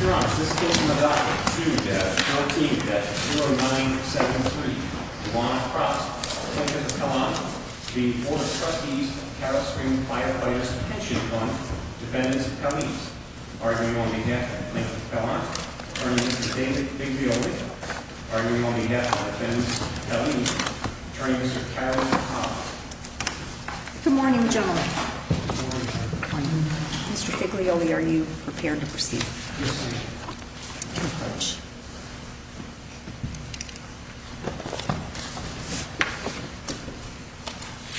Your Honor, this case is about to be dealt with at 0973 Duvall Cross. Attorney for Pellante, the Board of Trustees of Cattle Spring Firefighters Pension Fund. Defendant Pellante, arguing on behalf of the plaintiff, Pellante. Attorney for David Figlioli, arguing on behalf of the defendants, Pellante. Attorney, Mr. Carroll Cobb. Good morning, General. Good morning, Madam Attorney. Mr. Figlioli, are you prepared to proceed? Yes, ma'am. Thank you very much.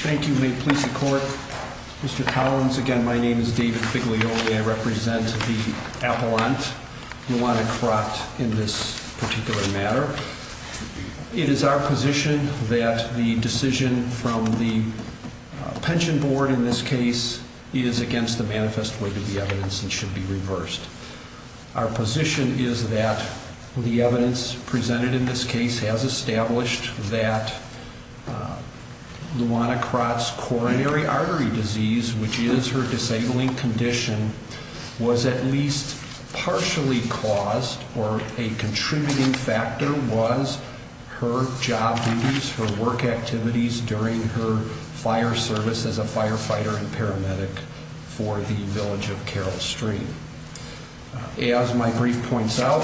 Thank you. May it please the Court. Mr. Collins, again, my name is David Figlioli. I represent the appellant, Juana Crott, in this particular matter. It is our position that the decision from the pension board, in this case, is against the manifest way to the evidence and should be reversed. Our position is that the evidence presented in this case has established that Juana Crott's coronary artery disease, which is her disabling condition, was at least partially caused, or a contributing factor, was her job duties, her work activities during her fire service as a firefighter and paramedic for the village of Carroll Stream. As my brief points out,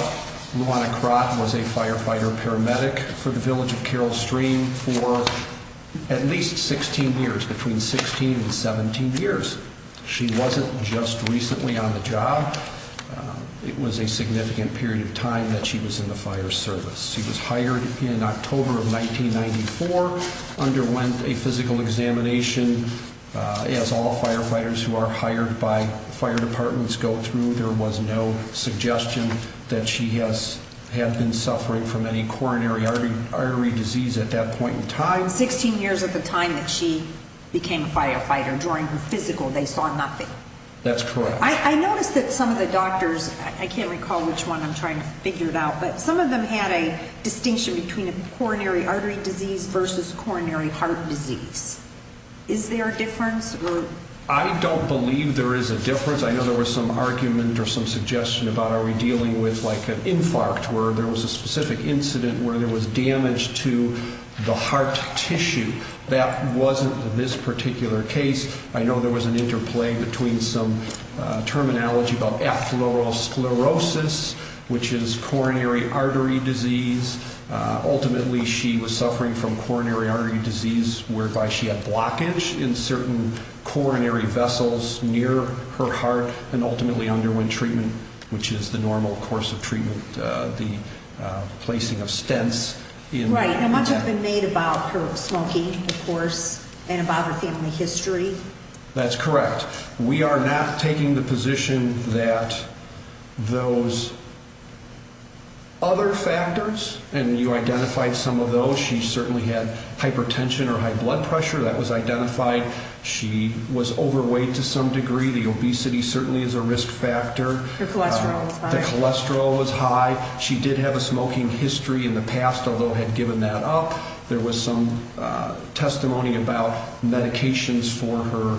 Juana Crott was a firefighter and paramedic for the village of Carroll Stream for at least 16 years, between 16 and 17 years. She wasn't just recently on the job. It was a significant period of time that she was in the fire service. She was hired in October of 1994, underwent a physical examination. As all firefighters who are hired by fire departments go through, there was no suggestion that she had been suffering from any coronary artery disease at that point in time. From 16 years at the time that she became a firefighter, during her physical, they saw nothing. That's correct. I noticed that some of the doctors, I can't recall which one I'm trying to figure out, but some of them had a distinction between a coronary artery disease versus coronary heart disease. Is there a difference? I don't believe there is a difference. I know there was some argument or some suggestion about are we dealing with like an infarct where there was a specific incident where there was damage to the heart tissue. That wasn't this particular case. I know there was an interplay between some terminology about atherosclerosis, which is coronary artery disease. Ultimately, she was suffering from coronary artery disease, whereby she had blockage in certain coronary vessels near her heart and the placing of stents. Much has been made about her smoking, of course, and about her family history. That's correct. We are not taking the position that those other factors, and you identified some of those. She certainly had hypertension or high blood pressure. That was identified. She was overweight to some degree. The obesity certainly is a risk factor. Her cholesterol was high. She did have a smoking history in the past, although had given that up. There was some testimony about medications for her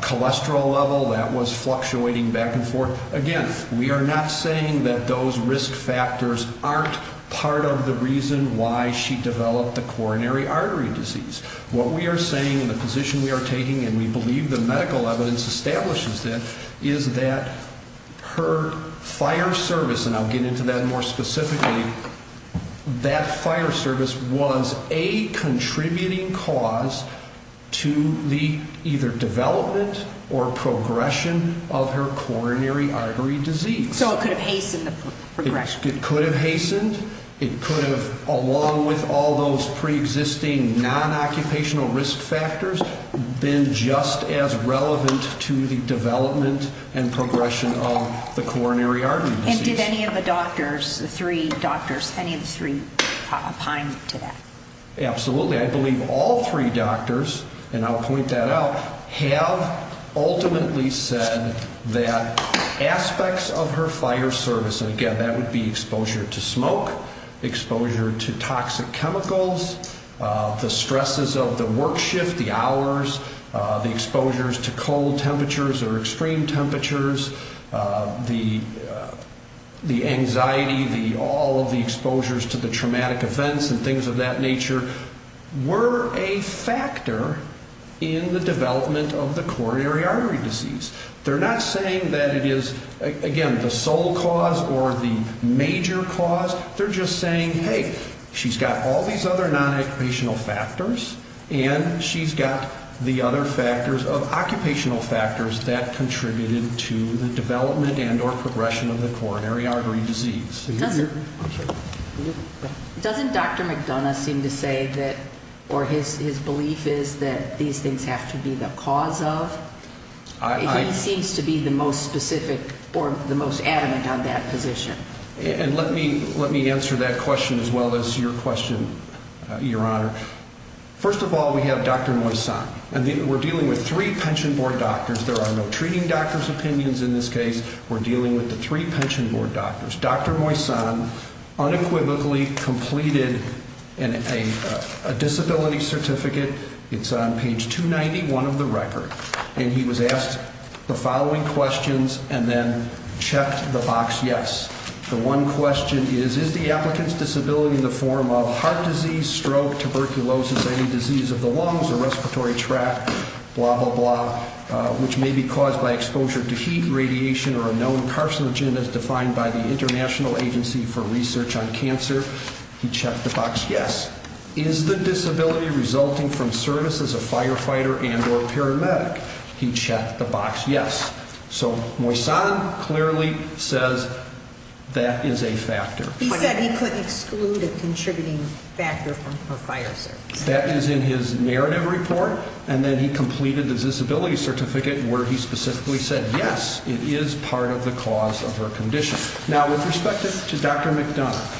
cholesterol level. That was fluctuating back and forth. Again, we are not saying that those risk factors aren't part of the reason why she developed the coronary artery disease. What we are saying in the position we are taking, and we believe the medical evidence establishes that, is that her fire service, and I'll get into that more specifically, that fire service was a contributing cause to the either development or progression of her coronary artery disease. So it could have hastened the progression. It could have hastened. It could have, along with all those preexisting non-occupational risk factors, been just as relevant to the development and progression of the coronary artery disease. And did any of the doctors, the three doctors, any of the three opine to that? Absolutely. I believe all three doctors, and I'll point that out, have ultimately said that aspects of her fire service, and again, that would be exposure to smoke, exposure to toxic chemicals, the stresses of the work shift, the hours, the exposures to cold temperatures or extreme temperatures, the anxiety, all of the exposures to the traumatic events and things of that nature were a factor in the development of the coronary artery disease. They're not saying that it is, again, the sole cause or the major cause. They're just saying, hey, she's got all these other non-occupational factors and she's got the other factors of occupational factors that contributed to the development and or progression of the coronary artery disease. Doesn't Dr. McDonough seem to say that, or his belief is that these things have to be the cause of? He seems to be the most specific or the most adamant on that position. Let me answer that question as well as your question, Your Honor. First of all, we have Dr. Moisan. We're dealing with three pension board doctors. There are no treating doctors' opinions in this case. We're dealing with the three pension board doctors. Dr. Moisan unequivocally completed a disability certificate. It's on page 291 of the record. And he was asked the following questions and then checked the box yes. The one question is, is the applicant's disability in the form of heart disease, stroke, tuberculosis, any disease of the lungs or respiratory tract, blah, blah, blah, which may be caused by exposure to heat, radiation, or a known carcinogen as defined by the International Agency for Research on Cancer? He checked the box yes. Is the disability resulting from service as a firefighter and or paramedic? He checked the box yes. So Moisan clearly says that is a factor. He said he couldn't exclude a contributing factor from her fire service. That is in his narrative report, and then he completed the disability certificate where he specifically said yes, it is part of the cause of her condition. Now, with respect to Dr. McDonough,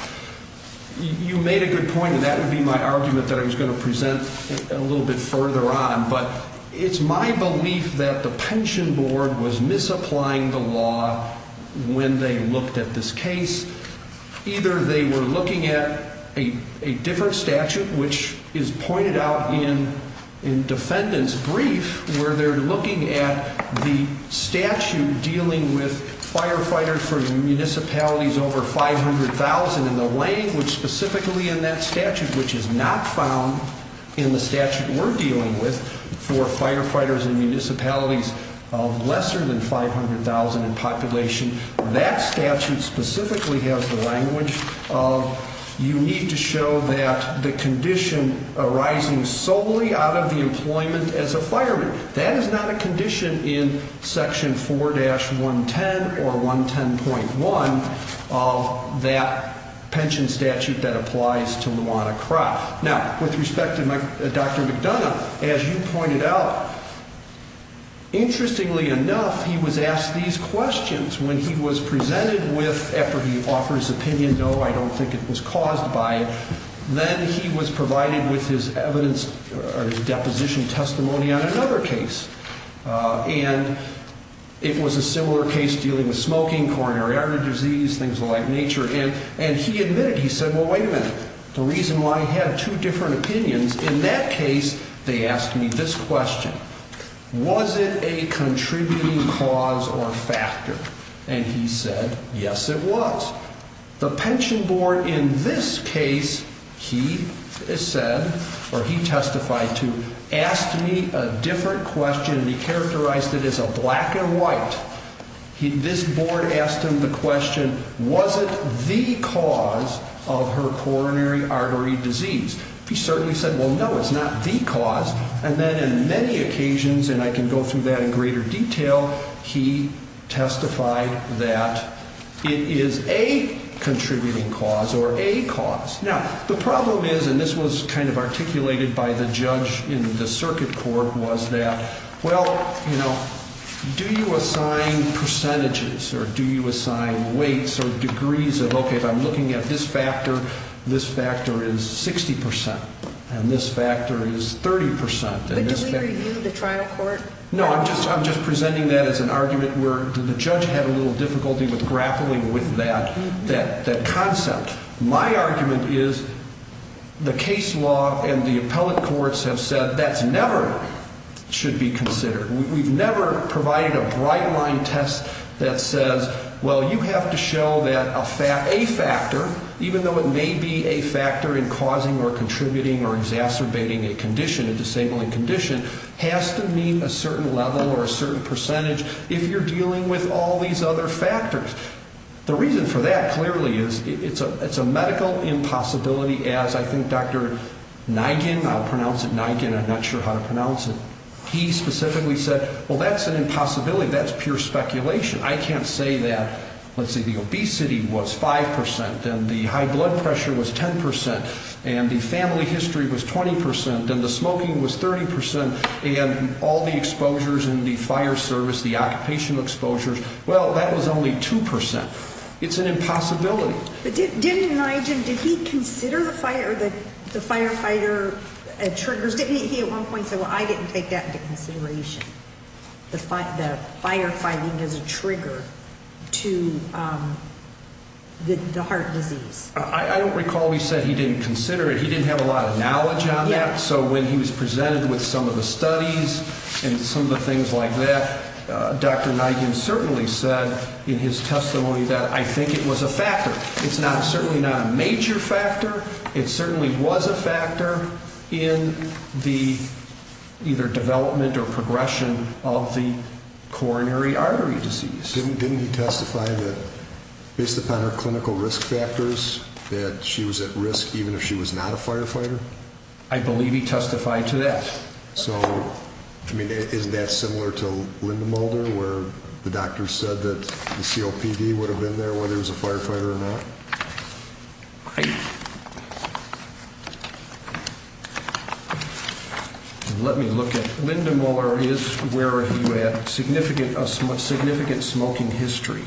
you made a good point, and that would be my argument that I was going to present a little bit further on, but it's my belief that the pension board was misapplying the law when they looked at this case. Either they were looking at a different statute, which is pointed out in defendant's brief, where they're looking at the statute dealing with firefighters for municipalities over 500,000, and the language specifically in that statute, which is not found in the statute we're dealing with for firefighters in municipalities of lesser than 500,000 in population, that statute specifically has the language of you need to show that the condition arising solely out of the employment as a fireman. That is not a condition in section 4-110 or 110.1 of that pension statute that applies to Luana Crop. Now, with respect to Dr. McDonough, as you pointed out, interestingly enough, he was asked these questions when he was presented with, after he offered his opinion, no, I don't think it was caused by, then he was provided with his deposition testimony on another case, and it was a similar case dealing with smoking, coronary artery disease, things of the like nature, and he admitted, he said, well, wait a minute, the reason why he had two different opinions, in that case, they asked me this question, was it a contributing cause or factor? And he said, yes, it was. Now, the pension board in this case, he said, or he testified to, asked me a different question, and he characterized it as a black and white. This board asked him the question, was it the cause of her coronary artery disease? He certainly said, well, no, it's not the cause, and then in many occasions, and I can go through that in greater detail, he testified that it is a contributing cause or a cause. Now, the problem is, and this was kind of articulated by the judge in the circuit court, was that, well, you know, do you assign percentages, or do you assign weights or degrees of, okay, if I'm looking at this factor, this factor is 60%, and this factor is 30%. But did we review the trial court? No, I'm just presenting that as an argument where the judge had a little difficulty with grappling with that concept. My argument is the case law and the appellate courts have said that's never should be considered. We've never provided a bright-line test that says, well, you have to show that a factor, even though it may be a factor in causing or contributing or exacerbating a condition, a disabling condition, has to mean a certain level or a certain percentage if you're dealing with all these other factors. The reason for that clearly is it's a medical impossibility, as I think Dr. Nigen, I'll pronounce it Nigen, I'm not sure how to pronounce it, he specifically said, well, that's an impossibility, that's pure speculation. I can't say that, let's see, the obesity was 5%, then the high blood pressure was 10%, and the family history was 20%, then the smoking was 30%, and all the exposures in the fire service, the occupational exposures, well, that was only 2%. It's an impossibility. But didn't Nigen, did he consider the firefighter triggers? Didn't he at one point say, well, I didn't take that into consideration, the firefighting as a trigger to the heart disease? I don't recall he said he didn't consider it. He didn't have a lot of knowledge on that. So when he was presented with some of the studies and some of the things like that, Dr. Nigen certainly said in his testimony that I think it was a factor. It's certainly not a major factor. It certainly was a factor in the either development or progression of the coronary artery disease. Didn't he testify that based upon her clinical risk factors that she was at risk even if she was not a firefighter? I believe he testified to that. So, I mean, isn't that similar to Linda Mueller where the doctor said that the COPD would have been there whether it was a firefighter or not? Let me look at, Linda Mueller is where he had significant smoking history.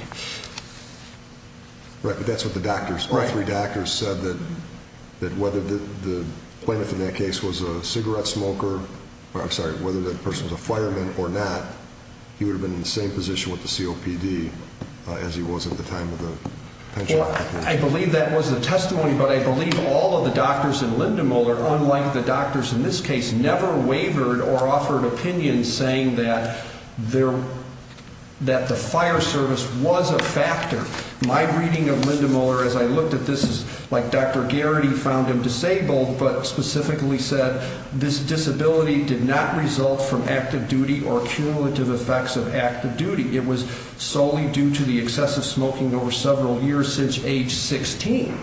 Right, but that's what the doctors, all three doctors said that whether the plaintiff in that case was a cigarette smoker, or I'm sorry, whether that person was a fireman or not, he would have been in the same position with the COPD as he was at the time of the pension. Well, I believe that was the testimony, but I believe all of the doctors in Linda Mueller, unlike the doctors in this case, never wavered or offered opinions saying that the fire service was a factor. My reading of Linda Mueller as I looked at this is like Dr. Garrity found him disabled, but specifically said this disability did not result from active duty or cumulative effects of active duty. It was solely due to the excessive smoking over several years since age 16.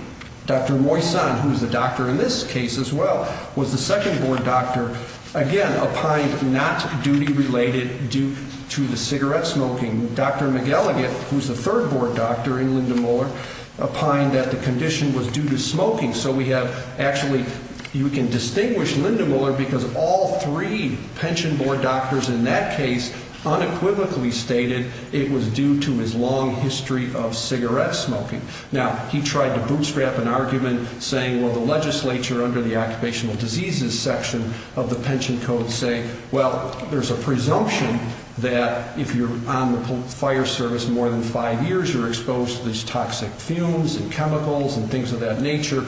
Dr. Moisan, who's the doctor in this case as well, was the second board doctor, again, opined not duty related due to the cigarette smoking. Dr. McElligott, who's the third board doctor in Linda Mueller, opined that the condition was due to smoking. So we have actually, you can distinguish Linda Mueller because all three pension board doctors in that case unequivocally stated it was due to his long history of cigarette smoking. Now, he tried to bootstrap an argument saying, well, the legislature under the occupational diseases section of the pension code say, well, there's a presumption that if you're on the fire service more than five years, you're exposed to these toxic fumes and chemicals and things of that nature.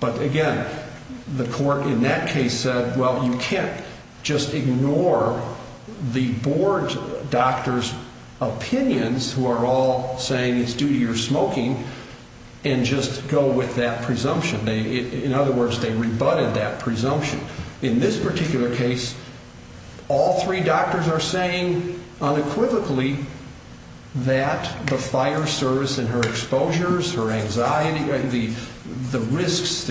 But, again, the court in that case said, well, you can't just ignore the board doctor's opinions who are all saying it's due to your smoking and just go with that presumption. In other words, they rebutted that presumption. In this particular case, all three doctors are saying unequivocally that the fire service and her exposures, her anxiety, the risks,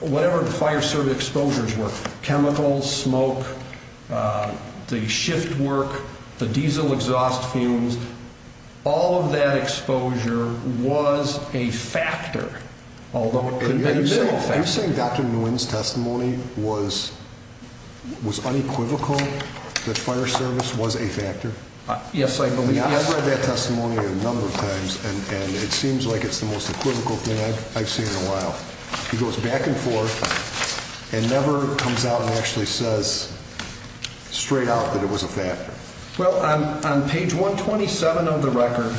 whatever the fire service exposures were, chemicals, smoke, the shift work, the diesel exhaust fumes, all of that exposure was a factor, although it could have been a factor. Are you saying Dr. Nguyen's testimony was unequivocal that fire service was a factor? Yes, I believe. I've read that testimony a number of times, and it seems like it's the most equivocal thing I've seen in a while. He goes back and forth and never comes out and actually says straight out that it was a factor. Well, on page 127 of the record,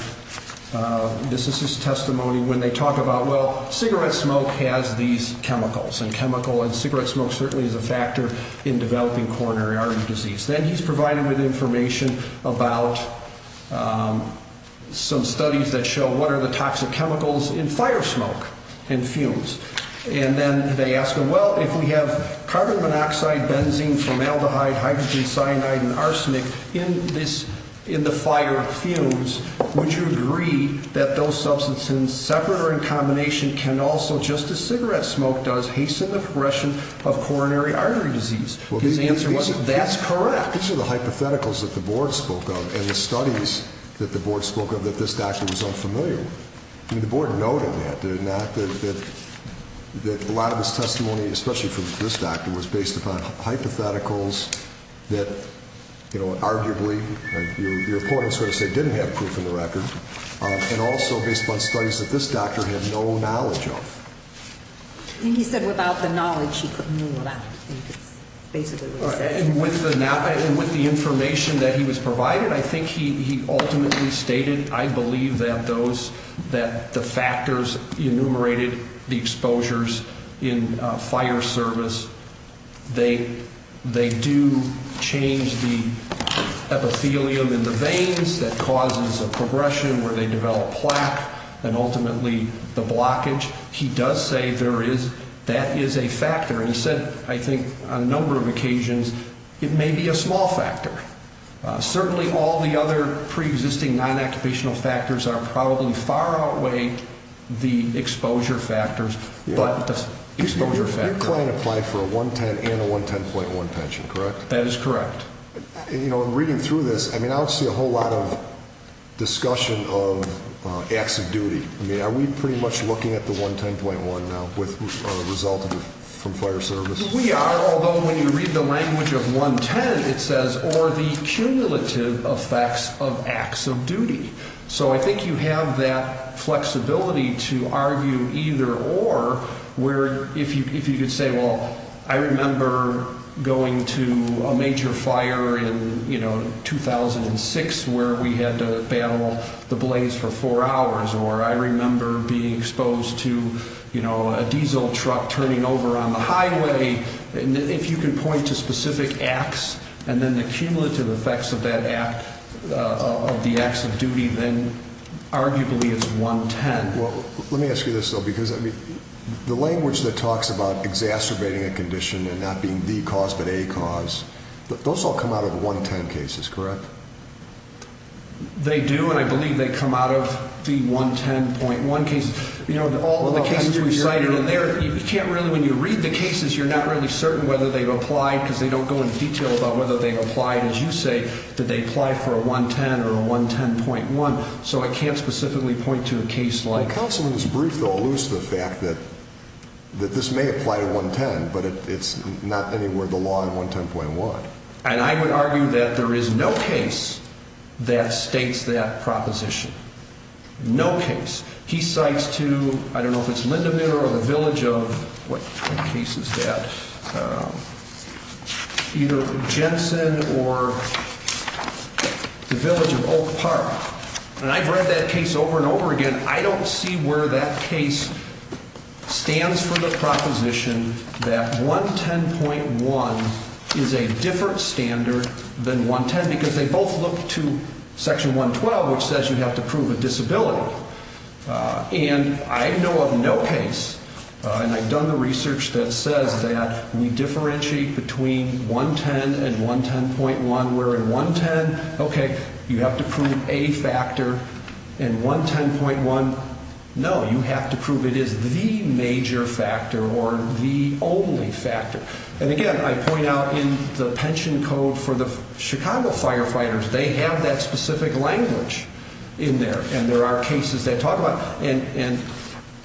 this is his testimony when they talk about, well, cigarette smoke has these chemicals and cigarette smoke certainly is a factor in developing coronary artery disease. Then he's provided with information about some studies that show what are the toxic chemicals in fire smoke and fumes. And then they ask him, well, if we have carbon monoxide, benzene, formaldehyde, hydrogen cyanide, and arsenic in the fire fumes, would you agree that those substances, separate or in combination, can also, just as cigarette smoke does, hasten the progression of coronary artery disease? His answer was, that's correct. These are the hypotheticals that the board spoke of and the studies that the board spoke of that this doctor was unfamiliar with. I mean, the board noted that, did it not? That a lot of his testimony, especially from this doctor, was based upon hypotheticals that, you know, arguably, your opponents are going to say didn't have proof in the record, and also based upon studies that this doctor had no knowledge of. I think he said without the knowledge, he couldn't rule it out. With the information that he was provided, I think he ultimately stated, I believe that the factors enumerated the exposures in fire service, they do change the epithelium in the veins, that causes a progression where they develop plaque, and ultimately the blockage. He does say there is, that is a factor. He said, I think, on a number of occasions, it may be a small factor. Certainly, all the other pre-existing non-occupational factors are probably far outweigh the exposure factors. Your client applied for a 110 and a 110.1 pension, correct? That is correct. You know, reading through this, I mean, I don't see a whole lot of discussion of acts of duty. I mean, are we pretty much looking at the 110.1 now as a result of fire service? We are, although when you read the language of 110, it says, or the cumulative effects of acts of duty. So I think you have that flexibility to argue either or, where if you could say, well, I remember going to a major fire in, you know, 2006 where we had to battle the blaze for four hours, or I remember being exposed to, you know, a diesel truck turning over on the highway. If you can point to specific acts and then the cumulative effects of that act, of the acts of duty, then arguably it's 110. Well, let me ask you this, though, because, I mean, the language that talks about exacerbating a condition and not being the cause but a cause, those all come out of the 110 cases, correct? They do, and I believe they come out of the 110.1 cases. You know, all of the cases we've cited in there, you can't really, when you read the cases, you're not really certain whether they've applied because they don't go into detail about whether they've applied, as you say, did they apply for a 110 or a 110.1. So I can't specifically point to a case like that. Well, counsel, in this brief, though, alludes to the fact that this may apply to 110, but it's not anywhere in the law in 110.1. And I would argue that there is no case that states that proposition, no case. He cites to, I don't know if it's Lindemann or the village of, what case is that, either Jensen or the village of Oak Park. And I've read that case over and over again. I don't see where that case stands for the proposition that 110.1 is a different standard than 110 because they both look to Section 112, which says you have to prove a disability. And I know of no case, and I've done the research that says that we differentiate between 110 and 110.1, where in 110, OK, you have to prove a factor. In 110.1, no, you have to prove it is the major factor or the only factor. And, again, I point out in the pension code for the Chicago firefighters, they have that specific language in there. And there are cases they talk about. And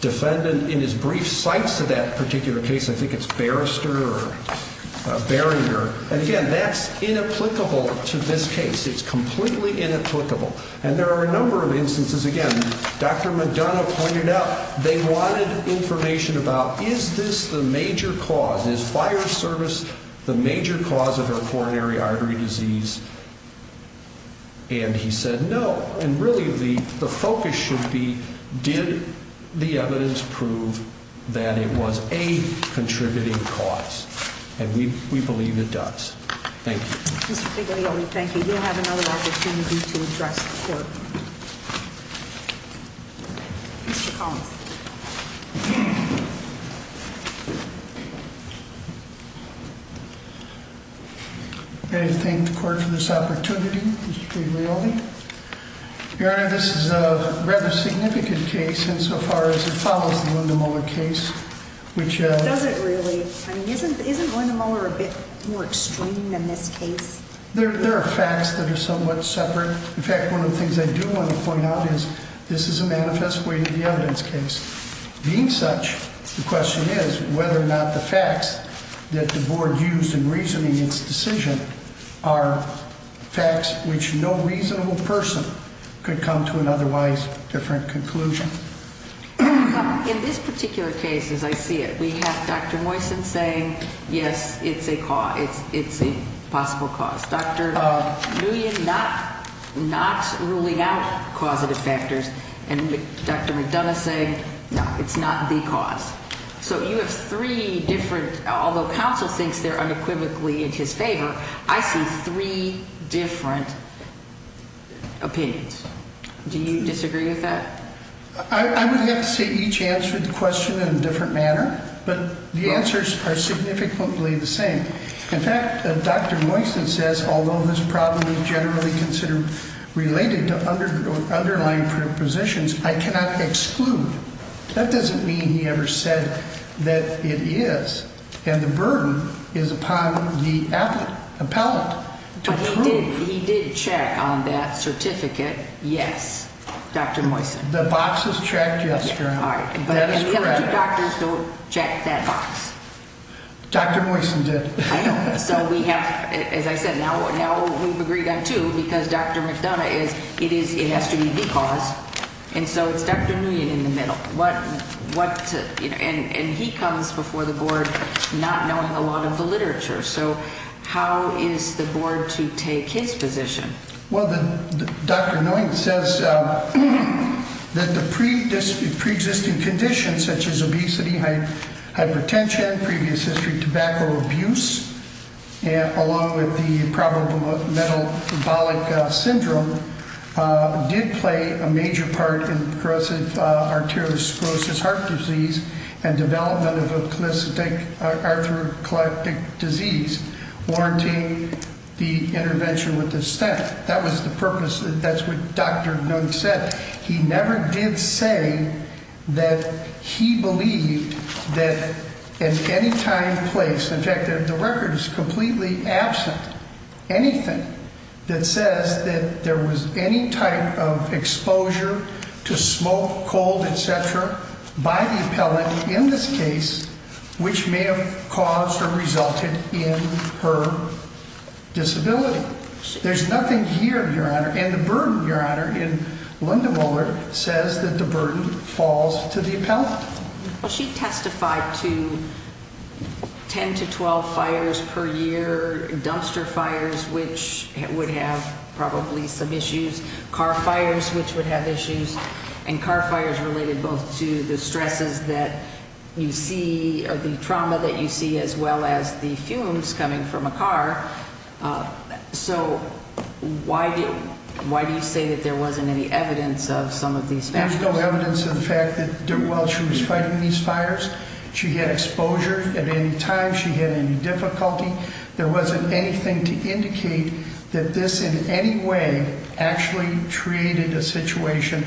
defendant, in his brief, cites to that particular case, I think it's Barrister or Barringer. And, again, that's inapplicable to this case. It's completely inapplicable. And there are a number of instances, again, Dr. Madonna pointed out they wanted information about, is this the major cause, is fire service the major cause of her coronary artery disease? And he said no. And, really, the focus should be, did the evidence prove that it was a contributing cause? And we believe it does. Thank you. Mr. Figlioli, thank you. You'll have another opportunity to address the court. Mr. Collins. I thank the court for this opportunity, Mr. Figlioli. Your Honor, this is a rather significant case insofar as it follows the Linda Muller case. It doesn't really. I mean, isn't Linda Muller a bit more extreme than this case? There are facts that are somewhat separate. In fact, one of the things I do want to point out is this is a manifest way to the evidence case. Being such, the question is whether or not the facts that the board used in reasoning its decision are facts which no reasonable person could come to an otherwise different conclusion. In this particular case, as I see it, we have Dr. Moysen saying, yes, it's a possible cause. Dr. Nguyen not ruling out causative factors. And Dr. McDonough saying, no, it's not the cause. So you have three different, although counsel thinks they're unequivocally in his favor, I see three different opinions. Do you disagree with that? I would have to say each answered the question in a different manner. But the answers are significantly the same. In fact, Dr. Moysen says, although this problem is generally considered related to underlying positions, I cannot exclude. That doesn't mean he ever said that it is. And the burden is upon the appellate. But he did check on that certificate, yes, Dr. Moysen. The box was checked yesterday. And the other two doctors don't check that box. Dr. Moysen did. So we have, as I said, now we've agreed on two because Dr. McDonough is, it has to be the cause. And so it's Dr. Nguyen in the middle. So how is the board to take his position? Well, Dr. Nguyen says that the pre-existing conditions, such as obesity, hypertension, previous history of tobacco abuse, along with the problem of metabolic syndrome, did play a major part in carotid arteriosclerosis, heart disease, and development of a clastic arthroclytic disease, warranting the intervention with the stent. That was the purpose. That's what Dr. Nguyen said. He never did say that he believed that at any time, place, in fact, the record is completely absent anything that says that there was any type of exposure to smoke, cold, et cetera, by the appellant in this case, which may have caused or resulted in her disability. There's nothing here, Your Honor. And the burden, Your Honor, in Linda Mueller says that the burden falls to the appellant. Well, she testified to 10 to 12 fires per year, dumpster fires, which would have probably some issues, car fires, which would have issues, and car fires related both to the stresses that you see or the trauma that you see as well as the fumes coming from a car. So why do you say that there wasn't any evidence of some of these factors? There's no evidence of the fact that while she was fighting these fires, she had exposure at any time, she had any difficulty. There wasn't anything to indicate that this in any way actually created a situation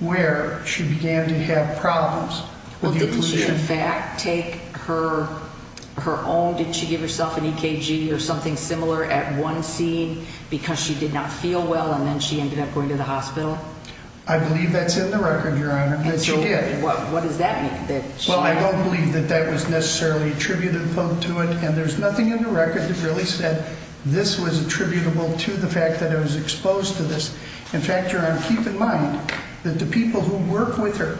where she began to have problems. Well, didn't she in fact take her own, did she give herself an EKG or something similar at one scene because she did not feel well and then she ended up going to the hospital? I believe that's in the record, Your Honor, that she did. What does that mean? Well, I don't believe that that was necessarily attributed to it, and there's nothing in the record that really said this was attributable to the fact that I was exposed to this. In fact, Your Honor, keep in mind that the people who work with her,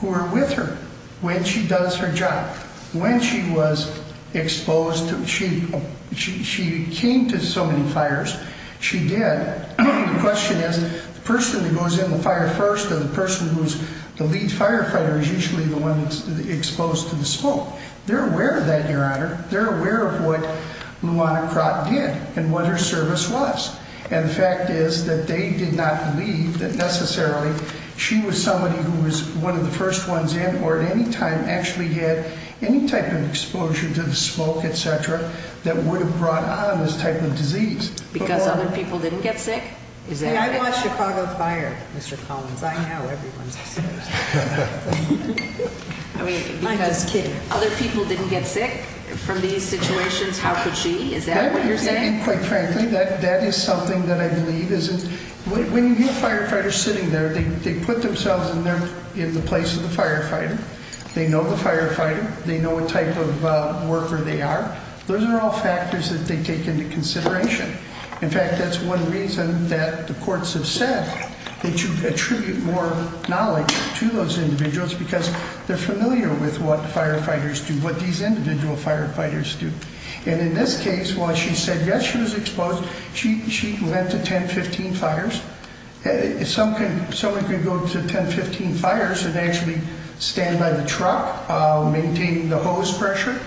who are with her when she does her job, when she was exposed, she came to so many fires, she did. The question is the person who goes in the fire first or the person who's the lead firefighter is usually the one exposed to the smoke. They're aware of that, Your Honor. They're aware of what Luana Crott did and what her service was. And the fact is that they did not believe that necessarily she was somebody who was one of the first ones in or at any time actually had any type of exposure to the smoke, et cetera, that would have brought on this type of disease. Because other people didn't get sick? See, I didn't watch Chicago Fire, Mr. Collins. I know everyone's exposed. I mean, because other people didn't get sick from these situations, how could she? Is that what you're saying? Quite frankly, that is something that I believe isn't – when you have firefighters sitting there, they put themselves in the place of the firefighter. They know the firefighter. They know what type of worker they are. Those are all factors that they take into consideration. In fact, that's one reason that the courts have said that you attribute more knowledge to those individuals because they're familiar with what firefighters do, what these individual firefighters do. And in this case, while she said yes, she was exposed, she went to 10, 15 fires. Someone can go to 10, 15 fires and actually stand by the truck, maintain the hose pressure.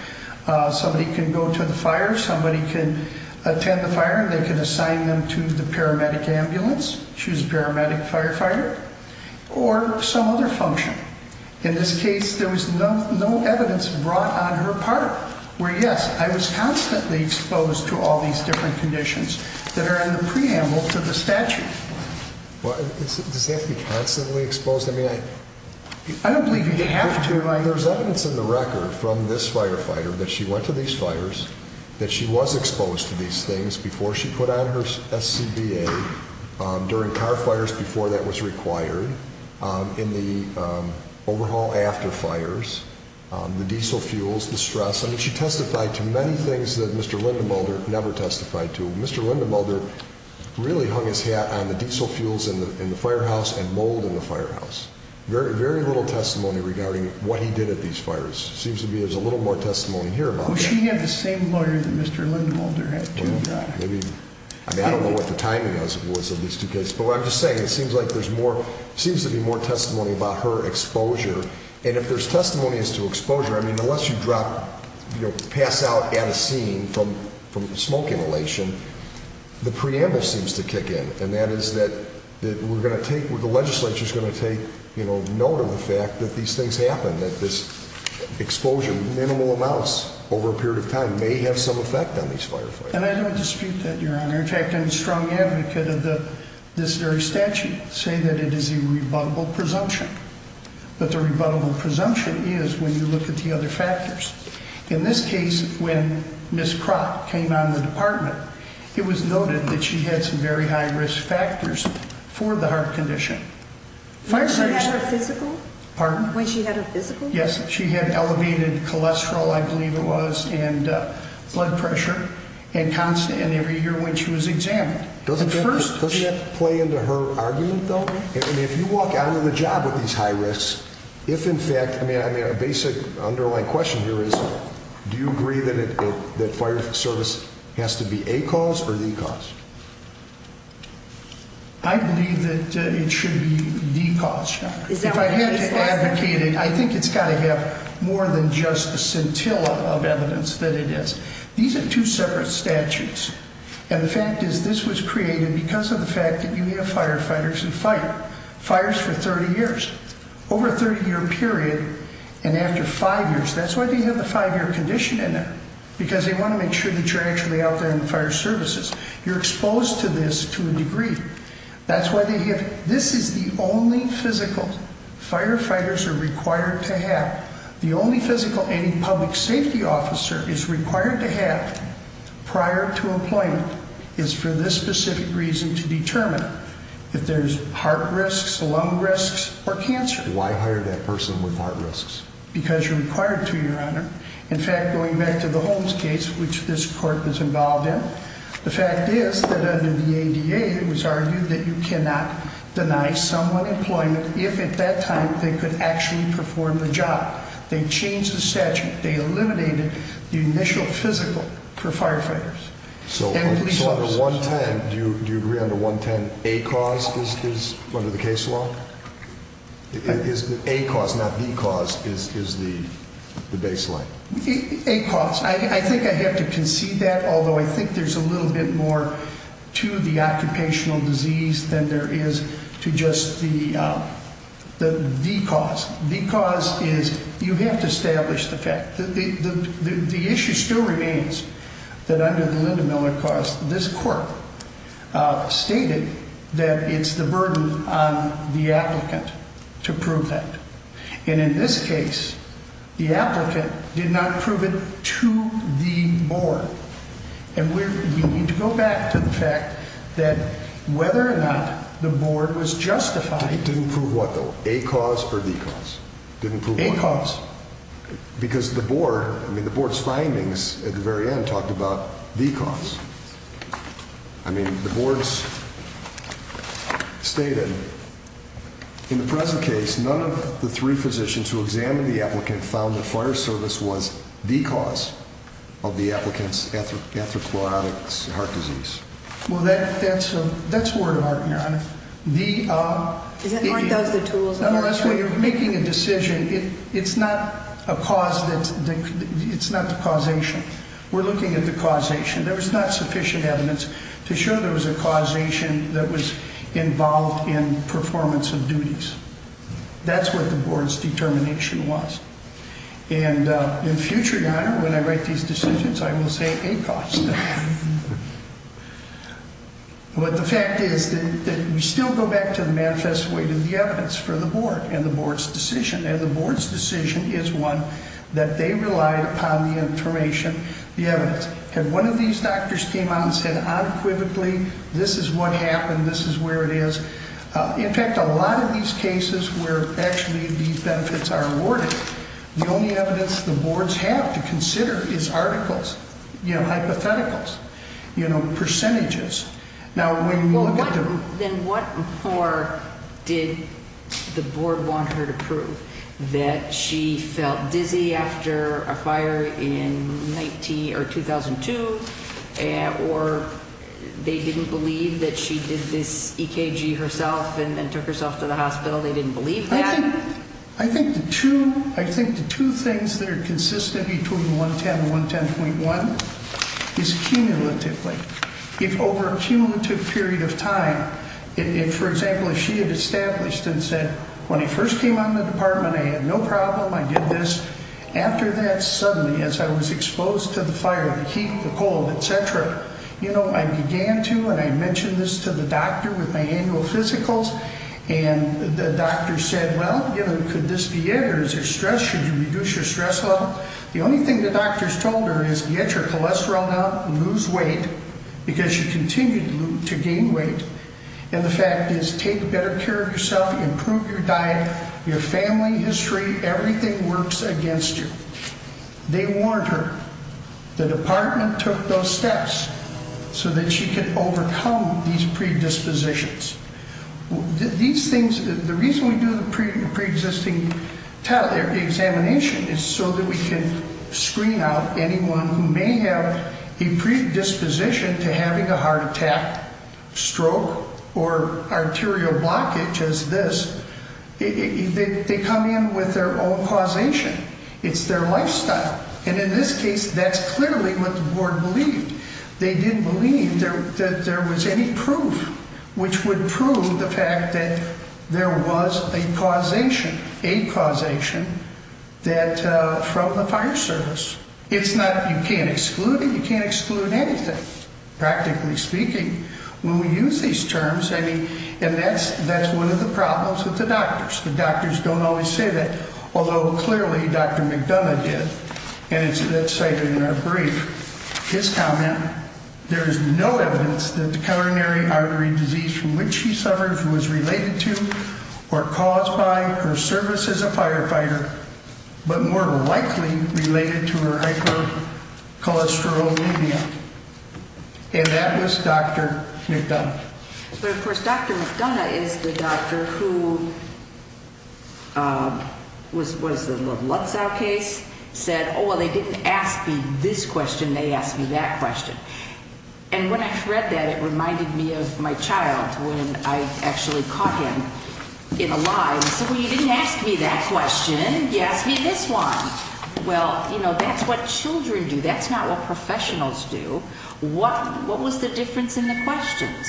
Somebody can go to the fire. Somebody can attend the fire. They can assign them to the paramedic ambulance. She was a paramedic firefighter or some other function. In this case, there was no evidence brought on her part where, yes, I was constantly exposed to all these different conditions that are in the preamble to the statute. Does it have to be constantly exposed? I don't believe you have to. There's evidence in the record from this firefighter that she went to these fires, that she was exposed to these things before she put on her SCBA, during car fires before that was required, in the overhaul after fires, the diesel fuels, the stress. I mean, she testified to many things that Mr. Linda Mulder never testified to. Mr. Linda Mulder really hung his hat on the diesel fuels in the firehouse and mold in the firehouse. Very, very little testimony regarding what he did at these fires. Seems to me there's a little more testimony here about that. Well, she had the same lawyer that Mr. Linda Mulder had, too. I don't know what the timing was of these two cases. But what I'm just saying, it seems like there's more, seems to be more testimony about her exposure. And if there's testimony as to exposure, I mean, unless you drop, you know, pass out at a scene from smoke inhalation, the preamble seems to kick in. And that is that we're going to take, the legislature's going to take note of the fact that these things happen, that this exposure, minimal amounts over a period of time, may have some effect on these firefighters. And I don't dispute that, Your Honor. In fact, I'm a strong advocate of this very statute, saying that it is a rebuttable presumption. But the rebuttable presumption is when you look at the other factors. In this case, when Ms. Kroc came on the department, it was noted that she had some very high-risk factors for the heart condition. When she had her physical? Pardon? When she had her physical? Yes. She had elevated cholesterol, I believe it was, and blood pressure, and constant, and every year when she was examined. Doesn't that play into her argument, though? And if you walk out of the job with these high risks, if in fact, I mean, a basic underlying question here is, do you agree that fire service has to be a cause or the cause? I believe that it should be the cause, Your Honor. If I had to advocate it, I think it's got to have more than just a scintilla of evidence that it is. These are two separate statutes. And the fact is this was created because of the fact that you have firefighters who fight fires for 30 years. Over a 30-year period, and after five years, that's why they have the five-year condition in there, because they want to make sure that you're actually out there in the fire services. You're exposed to this to a degree. That's why they have it. This is the only physical firefighters are required to have. The only physical any public safety officer is required to have prior to employment is for this specific reason to determine if there's heart risks, lung risks, or cancer. Why hire that person with heart risks? Because you're required to, Your Honor. In fact, going back to the Holmes case, which this court was involved in, the fact is that under the ADA, it was argued that you cannot deny someone employment if at that time they could actually perform the job. They changed the statute. They eliminated the initial physical for firefighters. So under 110, do you agree under 110, a cause is under the case law? A cause, not the cause, is the baseline. A cause. I think I have to concede that, although I think there's a little bit more to the occupational disease than there is to just the cause. The cause is you have to establish the fact. The issue still remains that under the Linda Miller cause, this court stated that it's the burden on the applicant to prove that. And in this case, the applicant did not prove it to the board. And we need to go back to the fact that whether or not the board was justified. It didn't prove what, though? A cause or the cause? A cause. Because the board, I mean, the board's findings at the very end talked about the cause. I mean, the board's stated, in the present case, none of the three physicians who examined the applicant found that fire service was the cause of the applicant's atheroclerotic heart disease. Well, that's word of art, Your Honor. Aren't those the tools? Nonetheless, when you're making a decision, it's not the causation. We're looking at the causation. There was not sufficient evidence to show there was a causation that was involved in performance of duties. That's what the board's determination was. And in future, Your Honor, when I write these decisions, I will say a cause. But the fact is that we still go back to the manifest weight of the evidence for the board and the board's decision. And the board's decision is one that they relied upon the information, the evidence. And one of these doctors came out and said unequivocally, this is what happened, this is where it is. In fact, a lot of these cases were actually these benefits are awarded. The only evidence the boards have to consider is articles, you know, hypotheticals, you know, percentages. Then what more did the board want her to prove? That she felt dizzy after a fire in 2002? Or they didn't believe that she did this EKG herself and then took herself to the hospital? They didn't believe that? I think the two things that are consistent between 110 and 110.1 is cumulatively. If over a cumulative period of time, if, for example, if she had established and said, when I first came on the department, I had no problem, I did this. After that, suddenly, as I was exposed to the fire, the heat, the cold, etc., you know, I began to, and I mentioned this to the doctor with my annual physicals, and the doctor said, well, you know, could this be it? Or is there stress? Should you reduce your stress level? The only thing the doctors told her is get your cholesterol down, lose weight, because you continue to gain weight, and the fact is take better care of yourself, improve your diet, your family history, everything works against you. They warned her. The department took those steps so that she could overcome these predispositions. These things, the reason we do the preexisting examination is so that we can screen out anyone who may have a predisposition to having a heart attack, stroke, or arterial blockage as this. They come in with their own causation. It's their lifestyle, and in this case, that's clearly what the board believed. They didn't believe that there was any proof which would prove the fact that there was a causation, a causation from the fire service. It's not, you can't exclude it. You can't exclude anything, practically speaking. When we use these terms, I mean, and that's one of the problems with the doctors. The doctors don't always say that, although clearly Dr. McDonough did, and that's cited in our brief. His comment, there is no evidence that the coronary artery disease from which she suffered was related to or caused by her service as a firefighter, but more likely related to her hypercholesterolemia. And that was Dr. McDonough. But, of course, Dr. McDonough is the doctor who was in the Lutzow case, said, oh, well, they didn't ask me this question. They asked me that question. And when I read that, it reminded me of my child when I actually caught him in a lie and said, well, you didn't ask me that question. You asked me this one. Well, you know, that's what children do. That's not what professionals do. What was the difference in the questions?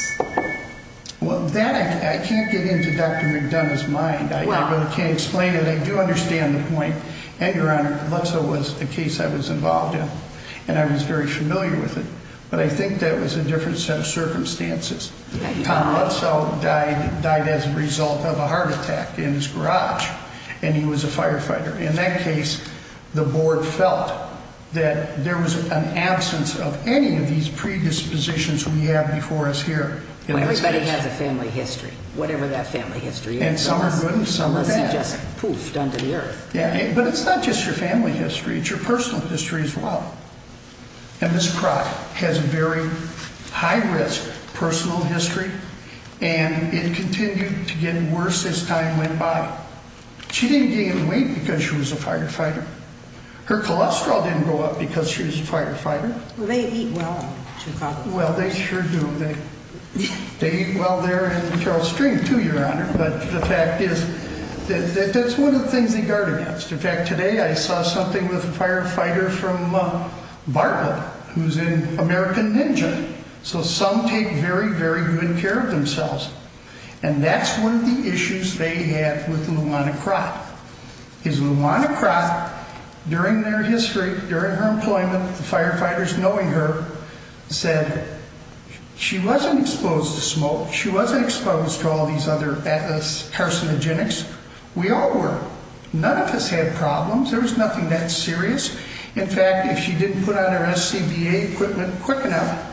Well, that I can't get into Dr. McDonough's mind. I really can't explain it. I do understand the point. And, Your Honor, Lutzow was the case I was involved in, and I was very familiar with it. But I think that was a different set of circumstances. Tom Lutzow died as a result of a heart attack in his garage, and he was a firefighter. In that case, the board felt that there was an absence of any of these predispositions we have before us here. Well, everybody has a family history, whatever that family history is. And some are good and some are bad. Unless you just poofed under the earth. But it's not just your family history. It's your personal history as well. And Ms. Crock has a very high-risk personal history, and it continued to get worse as time went by. She didn't gain weight because she was a firefighter. Her cholesterol didn't go up because she was a firefighter. Well, they eat well in Chicago. Well, they sure do. They eat well there in Charles Street too, Your Honor. But the fact is that that's one of the things they guard against. In fact, today I saw something with a firefighter from Bartlett who's an American ninja. So some take very, very good care of themselves. And that's one of the issues they had with Luana Crock. Because Luana Crock, during their history, during her employment, the firefighters knowing her, said she wasn't exposed to smoke. She wasn't exposed to all these other carcinogenics. We all were. None of us had problems. There was nothing that serious. In fact, if she didn't put on her SCBA equipment quick enough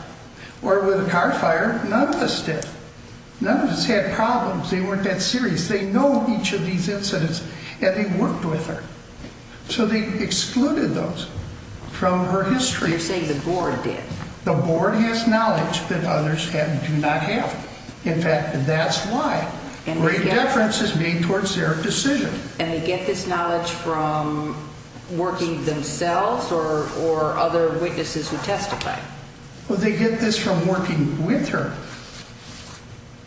or with a car fire, none of us did. None of us had problems. They weren't that serious. They know each of these incidents, and they worked with her. So they excluded those from her history. You're saying the board did? The board has knowledge that others do not have. In fact, that's why. Where indifference is made towards their decision. And they get this knowledge from working themselves or other witnesses who testify? Well, they get this from working with her.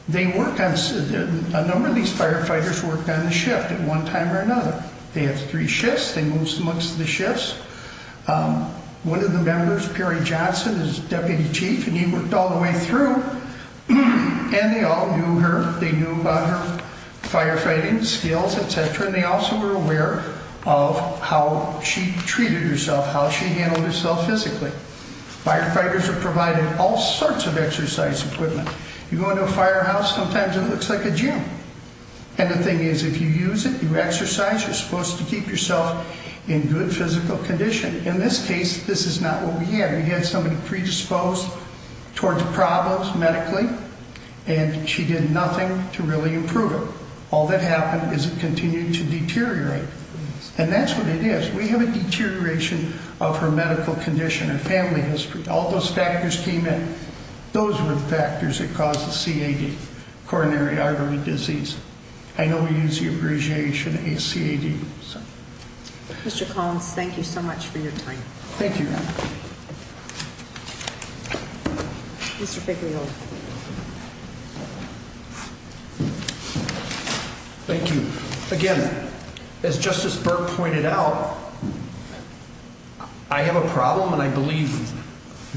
A number of these firefighters worked on the shift at one time or another. They have three shifts. They moved amongst the shifts. One of the members, Perry Johnson, is deputy chief, and he worked all the way through. And they all knew her. They knew about her firefighting skills, et cetera. And they also were aware of how she treated herself, how she handled herself physically. Firefighters are provided all sorts of exercise equipment. You go into a firehouse, sometimes it looks like a gym. And the thing is, if you use it, you exercise, you're supposed to keep yourself in good physical condition. In this case, this is not what we had. We had somebody predisposed towards problems medically, and she did nothing to really improve it. All that happened is it continued to deteriorate. And that's what it is. We have a deterioration of her medical condition. A family history. All those factors came in. Those were the factors that caused the CAD, coronary artery disease. I know we use the abbreviation ACAD. Mr. Collins, thank you so much for your time. Thank you. Mr. Figlioli. Thank you. Again, as Justice Burke pointed out, I have a problem, and I believe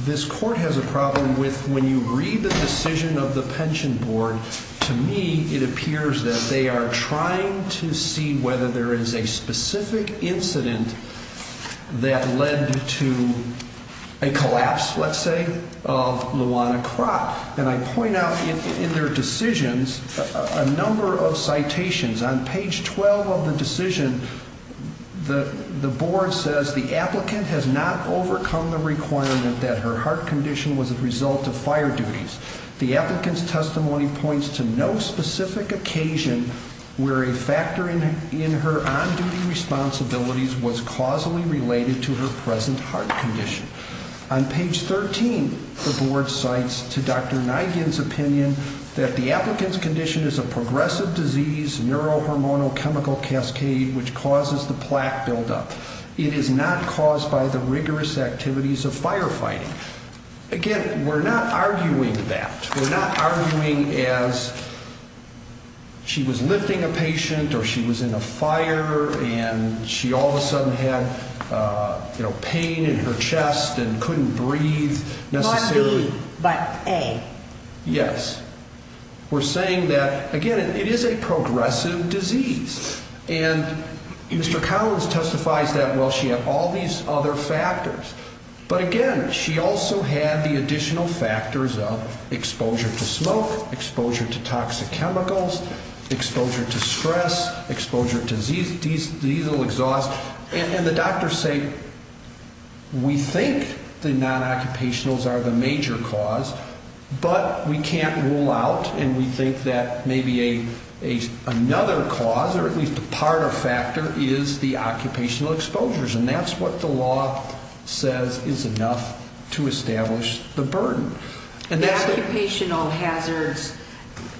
this court has a problem, with when you read the decision of the pension board, to me it appears that they are trying to see whether there is a specific incident that led to a collapse, let's say, of Luana Kropp. And I point out in their decisions a number of citations. On page 12 of the decision, the board says the applicant has not overcome the requirement that her heart condition was a result of fire duties. The applicant's testimony points to no specific occasion where a factor in her on-duty responsibilities was causally related to her present heart condition. On page 13, the board cites to Dr. Nygan's opinion that the applicant's condition is a progressive disease, neurohormonal chemical cascade, which causes the plaque buildup. It is not caused by the rigorous activities of firefighting. Again, we're not arguing that. We're not arguing as she was lifting a patient, or she was in a fire, and she all of a sudden had pain in her chest and couldn't breathe. Not B, but A. Yes. We're saying that, again, it is a progressive disease. And Mr. Collins testifies that, well, she had all these other factors. But again, she also had the additional factors of exposure to smoke, exposure to toxic chemicals, exposure to stress, exposure to diesel exhaust. And the doctors say we think the non-occupationals are the major cause, but we can't rule out and we think that maybe another cause, or at least a part or factor, is the occupational exposures, and that's what the law says is enough to establish the burden. The occupational hazards,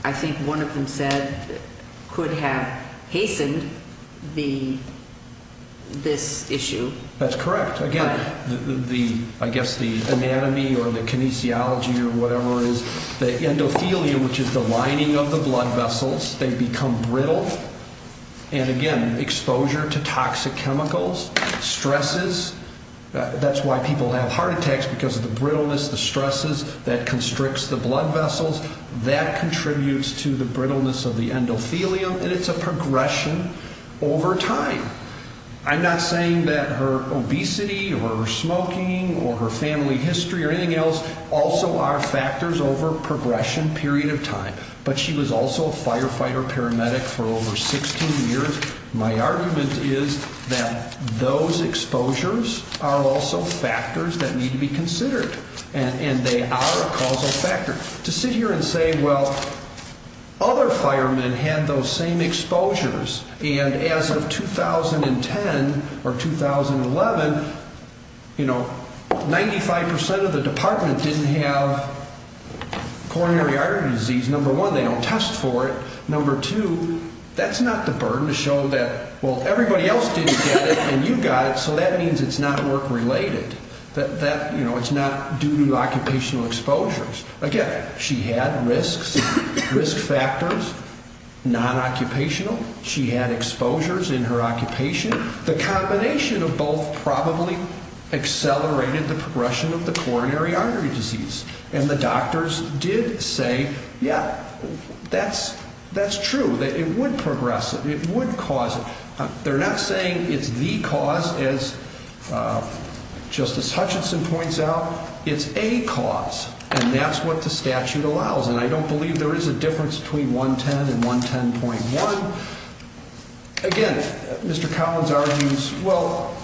I think one of them said, could have hastened this issue. That's correct. Again, I guess the anatomy or the kinesiology or whatever it is, the endothelia, which is the lining of the blood vessels, they become brittle. And again, exposure to toxic chemicals, stresses. That's why people have heart attacks, because of the brittleness, the stresses that constricts the blood vessels. That contributes to the brittleness of the endothelium, and it's a progression over time. I'm not saying that her obesity or her smoking or her family history or anything else also are factors over a progression period of time. But she was also a firefighter paramedic for over 16 years. My argument is that those exposures are also factors that need to be considered, and they are a causal factor. To sit here and say, well, other firemen had those same exposures, and as of 2010 or 2011, 95% of the department didn't have coronary artery disease. Number one, they don't test for it. Number two, that's not the burden to show that, well, everybody else didn't get it and you got it, so that means it's not work-related. It's not due to occupational exposures. Again, she had risks, risk factors, non-occupational. She had exposures in her occupation. The combination of both probably accelerated the progression of the coronary artery disease. And the doctors did say, yeah, that's true. It would progress it. It would cause it. They're not saying it's the cause, as Justice Hutchinson points out. It's a cause, and that's what the statute allows. And I don't believe there is a difference between 110 and 110.1. Again, Mr. Collins argues, well,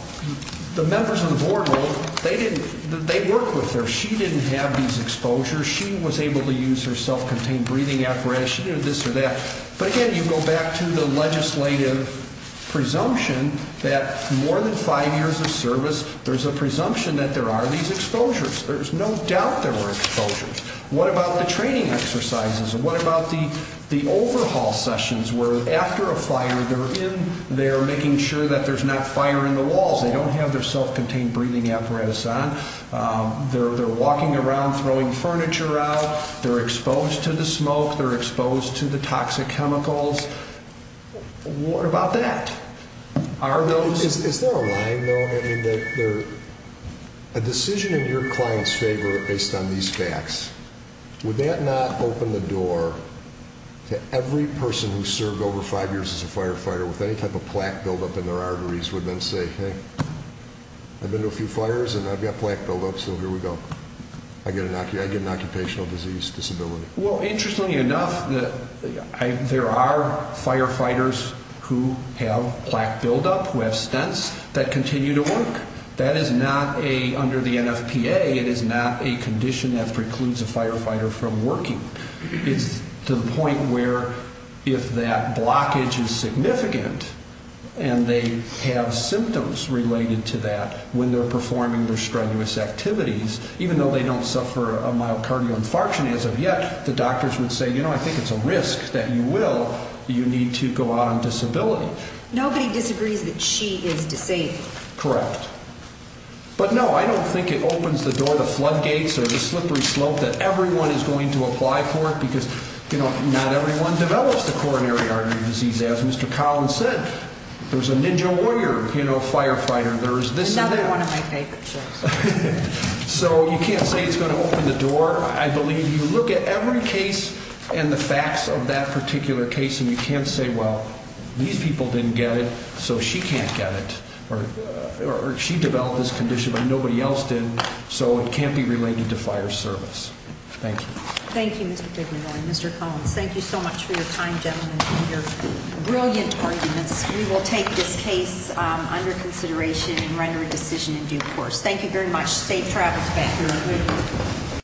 the members of the board, well, they work with her. She didn't have these exposures. She was able to use her self-contained breathing apparatus. She didn't have this or that. But, again, you go back to the legislative presumption that more than five years of service, there's a presumption that there are these exposures. There's no doubt there were exposures. What about the training exercises? What about the overhaul sessions where, after a fire, they're in there making sure that there's not fire in the walls? They don't have their self-contained breathing apparatus on. They're walking around throwing furniture out. They're exposed to the smoke. They're exposed to the toxic chemicals. What about that? Are those? Is there a line, though, in that a decision in your client's favor based on these facts, would that not open the door to every person who served over five years as a firefighter with any type of plaque buildup in their arteries would then say, hey, I've been to a few fires, and I've got plaque buildup, so here we go. I get an occupational disease disability. Well, interestingly enough, there are firefighters who have plaque buildup, who have stents, that continue to work. That is not a, under the NFPA, it is not a condition that precludes a firefighter from working. It's to the point where if that blockage is significant and they have symptoms related to that when they're performing their strenuous activities, even though they don't suffer a myocardial infarction as of yet, the doctors would say, you know, I think it's a risk that you will, you need to go out on disability. Nobody disagrees that she is disabled. Correct. But no, I don't think it opens the door to floodgates or the slippery slope that everyone is going to apply for because, you know, not everyone develops the coronary artery disease. As Mr. Collins said, there's a ninja warrior, you know, firefighter, there's this and that. Another one of my favorite shows. So you can't say it's going to open the door. I believe you look at every case and the facts of that particular case, and you can't say, well, these people didn't get it, so she can't get it, or she developed this condition, but nobody else did, so it can't be related to fire service. Thank you. Thank you, Mr. Figueroa and Mr. Collins. Thank you so much for your time, gentlemen, and your brilliant arguments. We will take this case under consideration and render a decision in due course. Thank you very much. Safe travels back here.